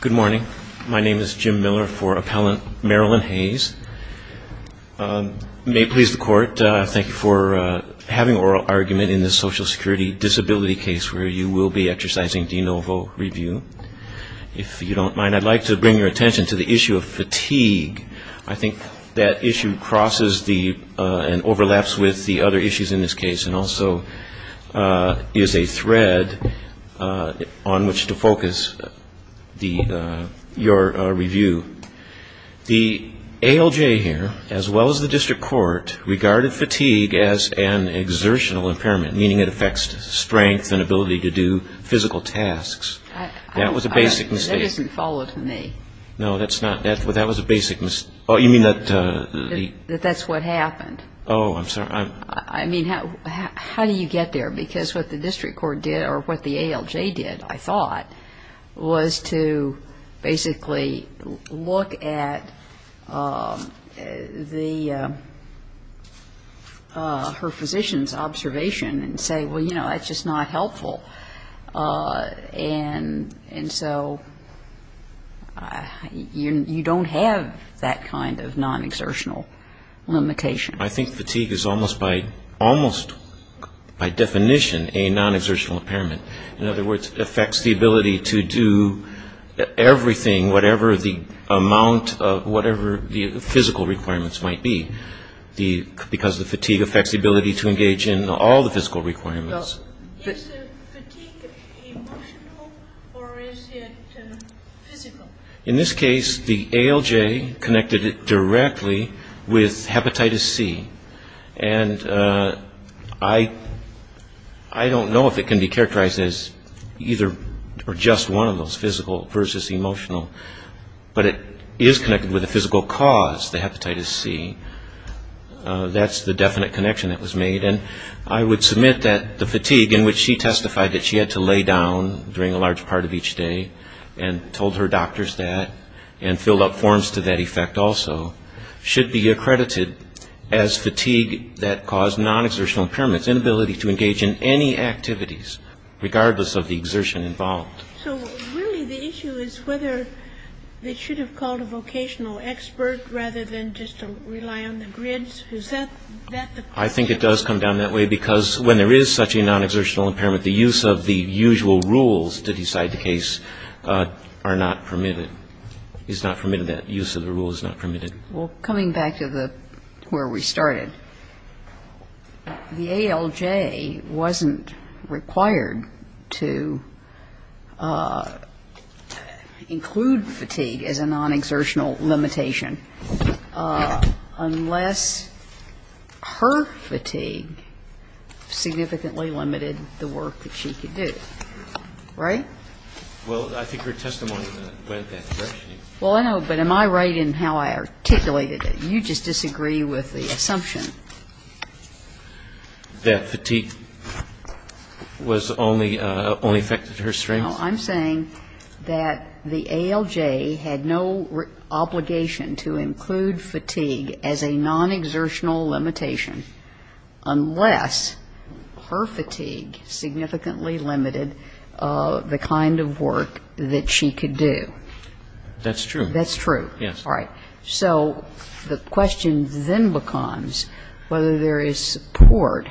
Good morning. My name is Jim Miller for appellant Marilyn Hayes. May it please the court, thank you for having an oral argument in this Social Security Disability case where you will be exercising de novo review. If you don't mind, I'd like to bring your attention to the issue of fatigue. I think that issue crosses and overlaps with the other issues in this case and also is a thread. The ALJ here, as well as the district court, regarded fatigue as an exertional impairment, meaning it affects strength and ability to do physical tasks. That was a basic mistake. That's what happened. How do you get there? Because what the district court did, or what the ALJ did, I thought, was to basically look at her physician's observation and say, well, you know, that's just not helpful. And so you don't have that kind of non-exertional limitation. I think fatigue is almost by definition a non-exertional impairment. In other words, it affects the ability to do everything, whatever the amount of whatever the physical requirements might be, because the fatigue affects the ability to engage in all the physical requirements. Is the fatigue emotional or is it physical? in which she testified that she had to lay down during a large part of each day and told her doctors that and filled out forms to that effect also, should be accredited as fatigue that caused non-exertional impairments, inability to engage in any activities, regardless of the exertion involved. So really the issue is whether they should have called a vocational expert rather than just rely on the grids? Is that the question? I think it does come down that way because when there is such a non-exertional impairment, the use of the usual rules to decide the case are not permitted. It's not permitted. That use of the rule is not permitted. Well, coming back to where we started, the ALJ wasn't required to include fatigue as a non-exertional limitation unless her fatigue significantly limited the work that she could do. Right? Well, I think her testimony went that direction. Well, I know, but am I right in how I articulated it? You just disagree with the assumption. That fatigue was only affected her strength? I'm saying that the ALJ had no obligation to include fatigue as a non-exertional limitation unless her fatigue significantly limited the kind of work that she could do. That's true. That's true. Yes. All right. So the question then becomes whether there is support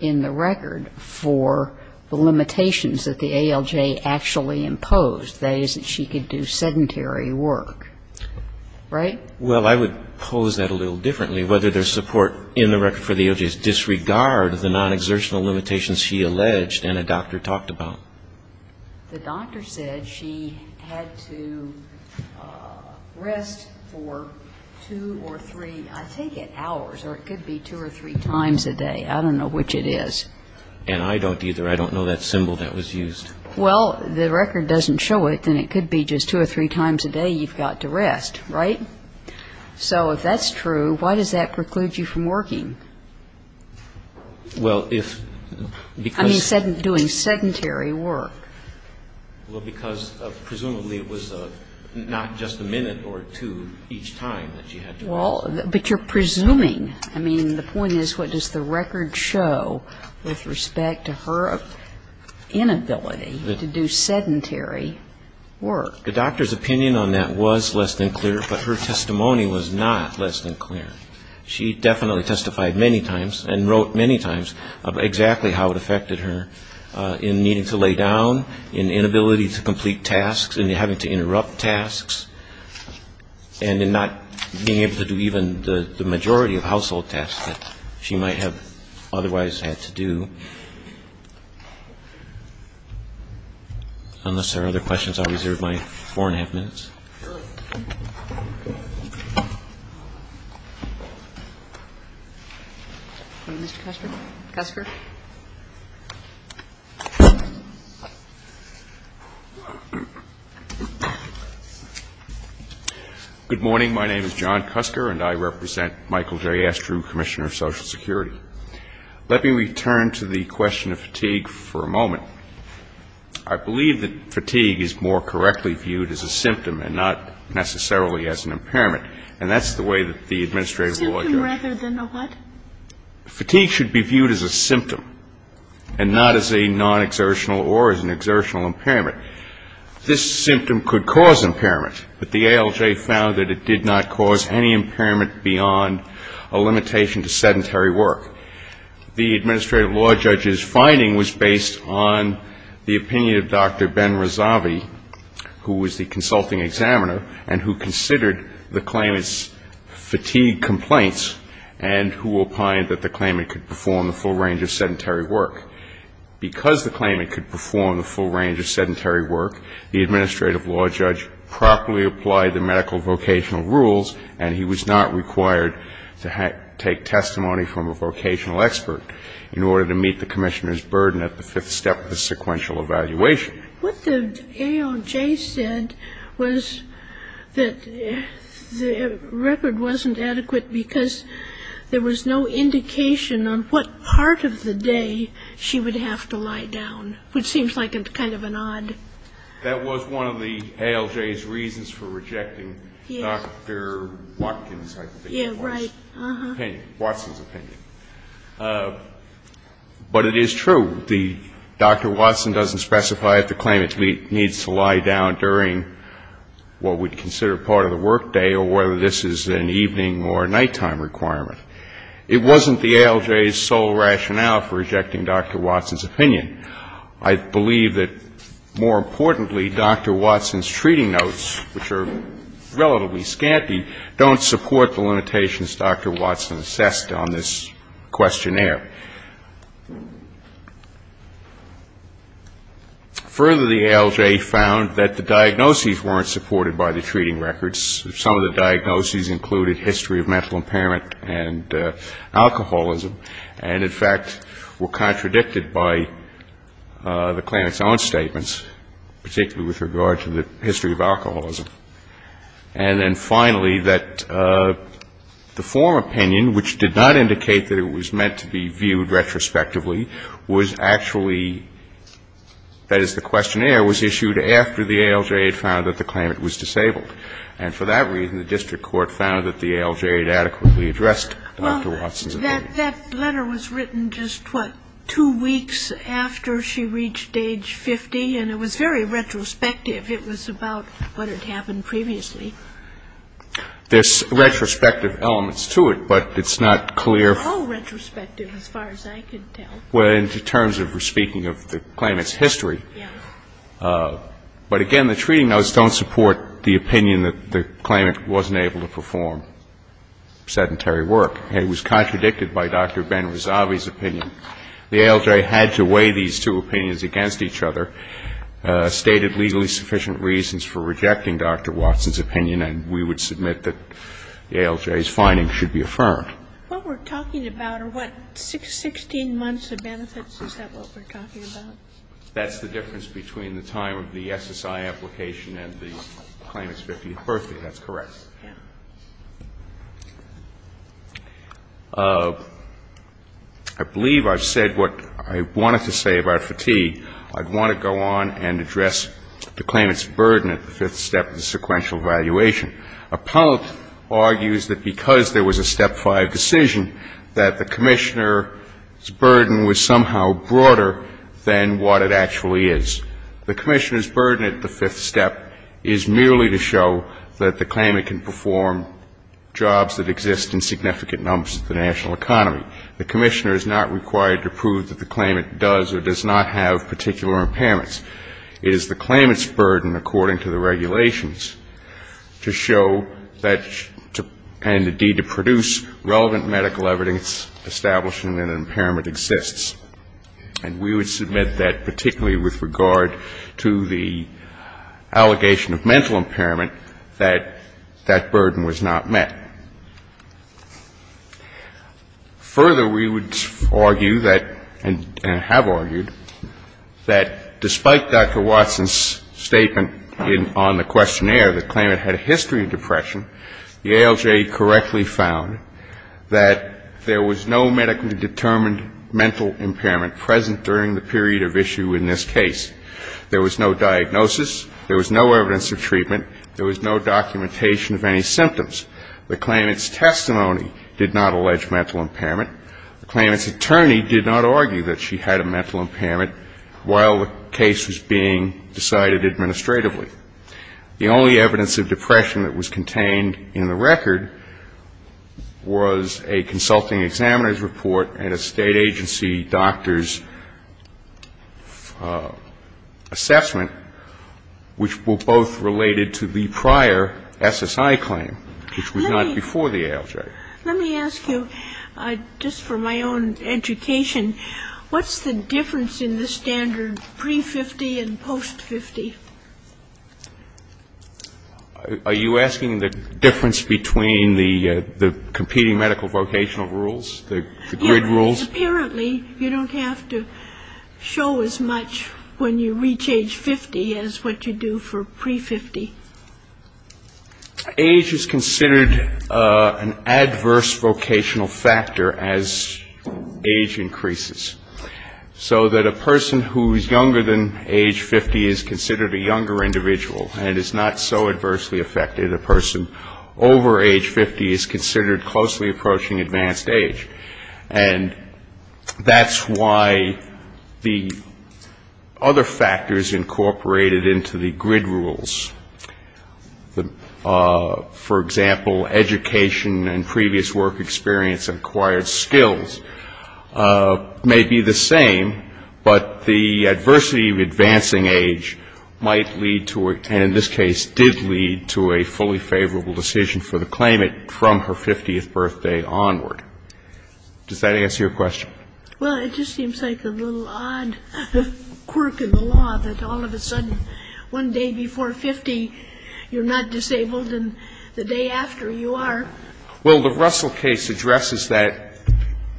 in the record for the limitations that the ALJ actually imposed, that is, that she could do sedentary work. Right? Well, I would pose that a little differently, whether there's support in the record for the ALJ's disregard of the non-exertional limitations she alleged and a doctor talked about. The doctor said she had to rest for two or three, I think, hours, or it could be two or three times a day. I don't know which it is. And I don't either. I don't know that symbol that was used. Well, the record doesn't show it. Then it could be just two or three times a day you've got to rest. Right? So if that's true, why does that preclude you from working? Well, if because Doing sedentary work. Well, because presumably it was not just a minute or two each time that she had to rest. Well, but you're presuming. I mean, the point is what does the record show with respect to her inability to do sedentary work? The doctor's opinion on that was less than clear, but her testimony was not less than clear. She definitely testified many times and wrote many times about exactly how it affected her in needing to lay down, in inability to complete tasks, in having to interrupt tasks, and in not being able to do even the majority of household tasks that she might have otherwise had to do. Unless there are other questions, I'll reserve my four-and-a-half minutes. Mr. Cusker. Good morning. My name is John Cusker, and I represent Michael J. Astrew, Commissioner of Social Security. Let me return to the question of fatigue for a moment. I believe that fatigue is more correctly viewed as a symptom and not necessarily as an impairment, and that's the way that the administrative law goes. A symptom rather than a what? Fatigue should be viewed as a symptom and not as a non-exertional or as an exertional impairment. This symptom could cause impairment, but the ALJ found that it did not cause any impairment beyond a limitation to sedentary work. The administrative law judge's finding was based on the opinion of Dr. Ben Razavi, who was the consulting examiner and who considered the claimant's fatigue complaints and who opined that the claimant could perform the full range of sedentary work. Because the claimant could perform the full range of sedentary work, the administrative law judge properly applied the medical vocational rules, and he was not required to take testimony from a vocational expert in order to meet the commissioner's burden at the fifth step of the sequential evaluation. What the ALJ said was that the record wasn't adequate because there was no indication on what part of the day she would have to lie down, which seems like kind of an odd. That was one of the ALJ's reasons for rejecting Dr. Watkins, I think. Yeah, right. Watson's opinion. But it is true. Dr. Watson doesn't specify if the claimant needs to lie down during what we'd consider part of the work day or whether this is an evening or nighttime requirement. It wasn't the ALJ's sole rationale for rejecting Dr. Watson's opinion. I believe that, more importantly, Dr. Watson's treating notes, which are relatively scanty, don't support the limitations Dr. Watson assessed on this questionnaire. Further, the ALJ found that the diagnoses weren't supported by the treating records. Some of the diagnoses included history of mental impairment and alcoholism and, in fact, were contradicted by the claimant's own statements, particularly with regard to the history of alcoholism. And then, finally, that the former opinion, which did not indicate that it was meant to be viewed retrospectively, was actually, that is, the questionnaire was issued after the ALJ had found that the claimant was disabled. And for that reason, the district court found that the ALJ had adequately addressed Dr. Watson's opinion. Well, that letter was written just, what, two weeks after she reached age 50? And it was very retrospective. It was about what had happened previously. There's retrospective elements to it, but it's not clear. How retrospective, as far as I can tell? Well, in terms of speaking of the claimant's history. Yes. But, again, the treating notes don't support the opinion that the claimant wasn't able to perform sedentary work. It was contradicted by Dr. Ben-Razavi's opinion. The ALJ had to weigh these two opinions against each other, stated legally sufficient reasons for rejecting Dr. Watson's opinion, and we would submit that the ALJ's findings should be affirmed. What we're talking about are, what, 16 months of benefits? Is that what we're talking about? That's the difference between the time of the SSI application and the claimant's 50th birthday. That's correct. Yes. I believe I've said what I wanted to say about fatigue. I'd want to go on and address the claimant's burden at the fifth step of the sequential evaluation. Appellant argues that because there was a Step 5 decision, that the Commissioner's burden at the fifth step is merely to show that the claimant can perform jobs that exist in significant numbers of the national economy. The Commissioner is not required to prove that the claimant does or does not have particular impairments. It is the claimant's burden, according to the regulations, to show that, and, indeed, to produce relevant medical evidence establishing that an impairment exists. And we would submit that particularly with regard to the allegation of mental impairment, that that burden was not met. Further, we would argue that, and have argued, that despite Dr. Watson's statement on the questionnaire that the claimant had a history of depression, the ALJ correctly found that there was no medically determined mental impairment present during the period of issue in this case. There was no diagnosis, there was no evidence of treatment, there was no documentation of any symptoms. The claimant's testimony did not allege mental impairment. The claimant's attorney did not argue that she had a mental impairment while the case was being decided administratively. The only evidence of depression that was contained in the record was a consulting examiner's report and a State Agency doctor's assessment, which were both related to the prior SSI claim, which was not before the ALJ. Let me ask you, just for my own education, what's the difference in the standard pre-50 and post-50? Are you asking the difference between the competing medical vocational rules, the grid rules? Yes, because apparently you don't have to show as much when you reach age 50 as what you do for pre-50. Age is considered an adverse vocational factor as age increases. So that a person who is younger than age 50 is considered a younger individual and is not so adversely affected. A person over age 50 is considered closely approaching advanced age. And that's why the other factors incorporated into the grid rules, for example, education and previous work experience and acquired skills, may be the same. But the adversity of advancing age might lead to, and in this case did lead to a fully favorable decision for the claimant from her 50th birthday onward. Does that answer your question? Well, it just seems like a little odd quirk of the law that all of a sudden one day before 50 you're not disabled and the day after you are. Well, the Russell case addresses that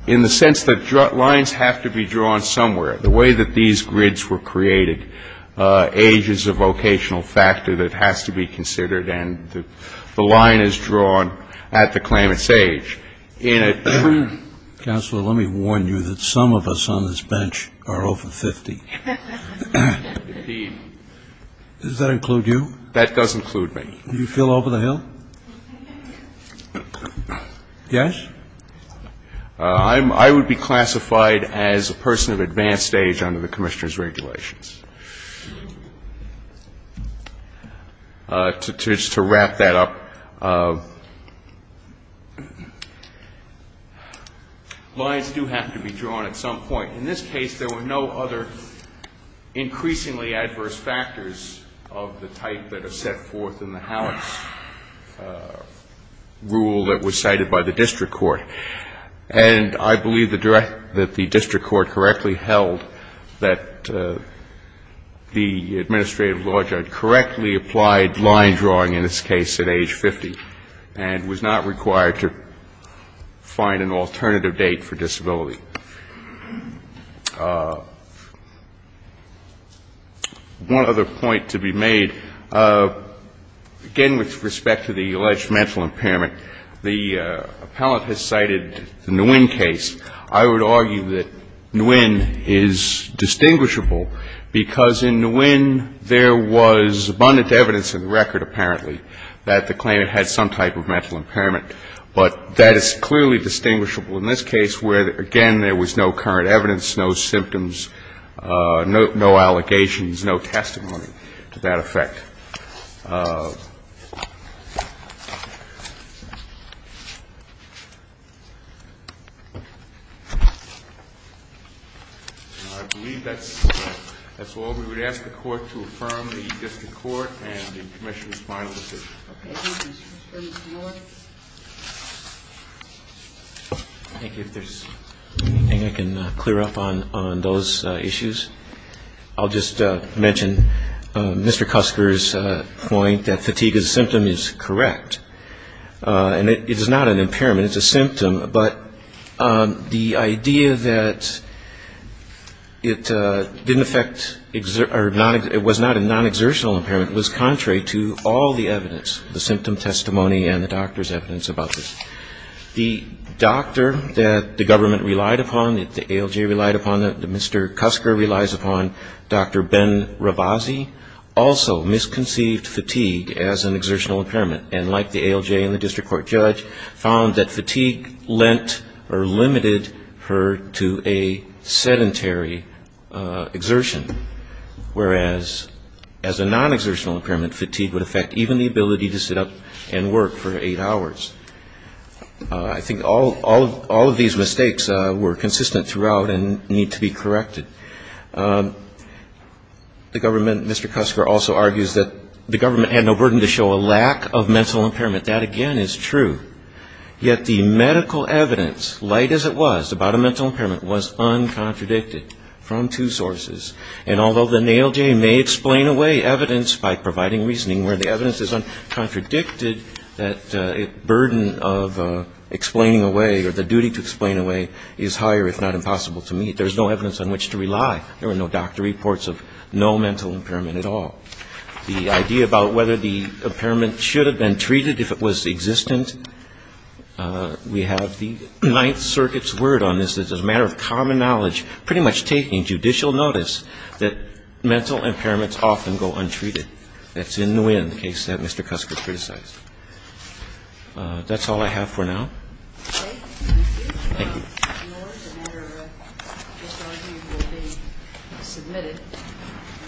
in the sense that lines have to be drawn somewhere. The way that these grids were created, age is a vocational factor that has to be considered and the line is drawn at the claimant's age. Counselor, let me warn you that some of us on this bench are over 50. Does that include you? That does include me. Do you feel over the hill? Yes? I would be classified as a person of advanced age under the Commissioner's regulations. To wrap that up, lines do have to be drawn at some point. In this case, there were no other increasingly adverse factors of the type that are set forth in the Halleck's rule that was cited by the district court. And I believe that the district court correctly held that the administrative law judge correctly applied line drawing, in this case, at age 50 and was not required to find an alternative date for disability. One other point to be made. Again, with respect to the alleged mental impairment, the appellant has cited the Nguyen case. I would argue that Nguyen is distinguishable because in Nguyen, there was abundant evidence in the record, apparently, that the claimant had some type of mental impairment. But that is clearly distinguishable in this case where, again, there was no current evidence, no symptoms, no allegations, no testimony to that effect. I believe that's all. We would ask the Court to affirm the district court and the Commissioner's final decision. Thank you. If there's anything I can clear up on those issues, I'll just mention Mr. Cusker's point that fatigue as a symptom is correct. And it is not an impairment, it's a symptom, but the idea that it didn't affect or it was not a non-exertional impairment, was contrary to all the evidence, the symptom testimony and the doctor's evidence about this. The doctor that the government relied upon, that the ALJ relied upon, that Mr. Cusker relies upon, Dr. Ben Ravazzi, also misconceived fatigue as an exertional impairment and, like the ALJ and the district court judge, found that fatigue lent or limited her to a sedentary exertion, whereas as a non-exertional impairment, fatigue would affect even the ability to sit up and work for eight hours. I think all of these mistakes were consistent throughout and need to be corrected. The government, Mr. Cusker also argues that the government had no burden to show a lack of mental impairment. That, again, is true, yet the medical evidence, light as it was, about a mental impairment, was uncontradicted from two sides of the aisle, providing reasoning where the evidence is uncontradicted that a burden of explaining away or the duty to explain away is higher, if not impossible, to meet. There's no evidence on which to rely. There were no doctor reports of no mental impairment at all. The idea about whether the impairment should have been treated if it was existent, we have the Ninth Circuit's word on this. It's a matter of common knowledge, pretty much taking judicial notice, that mental impairments often go untreated. That's in the wind, the case that Mr. Cusker criticized. That's all I have for now.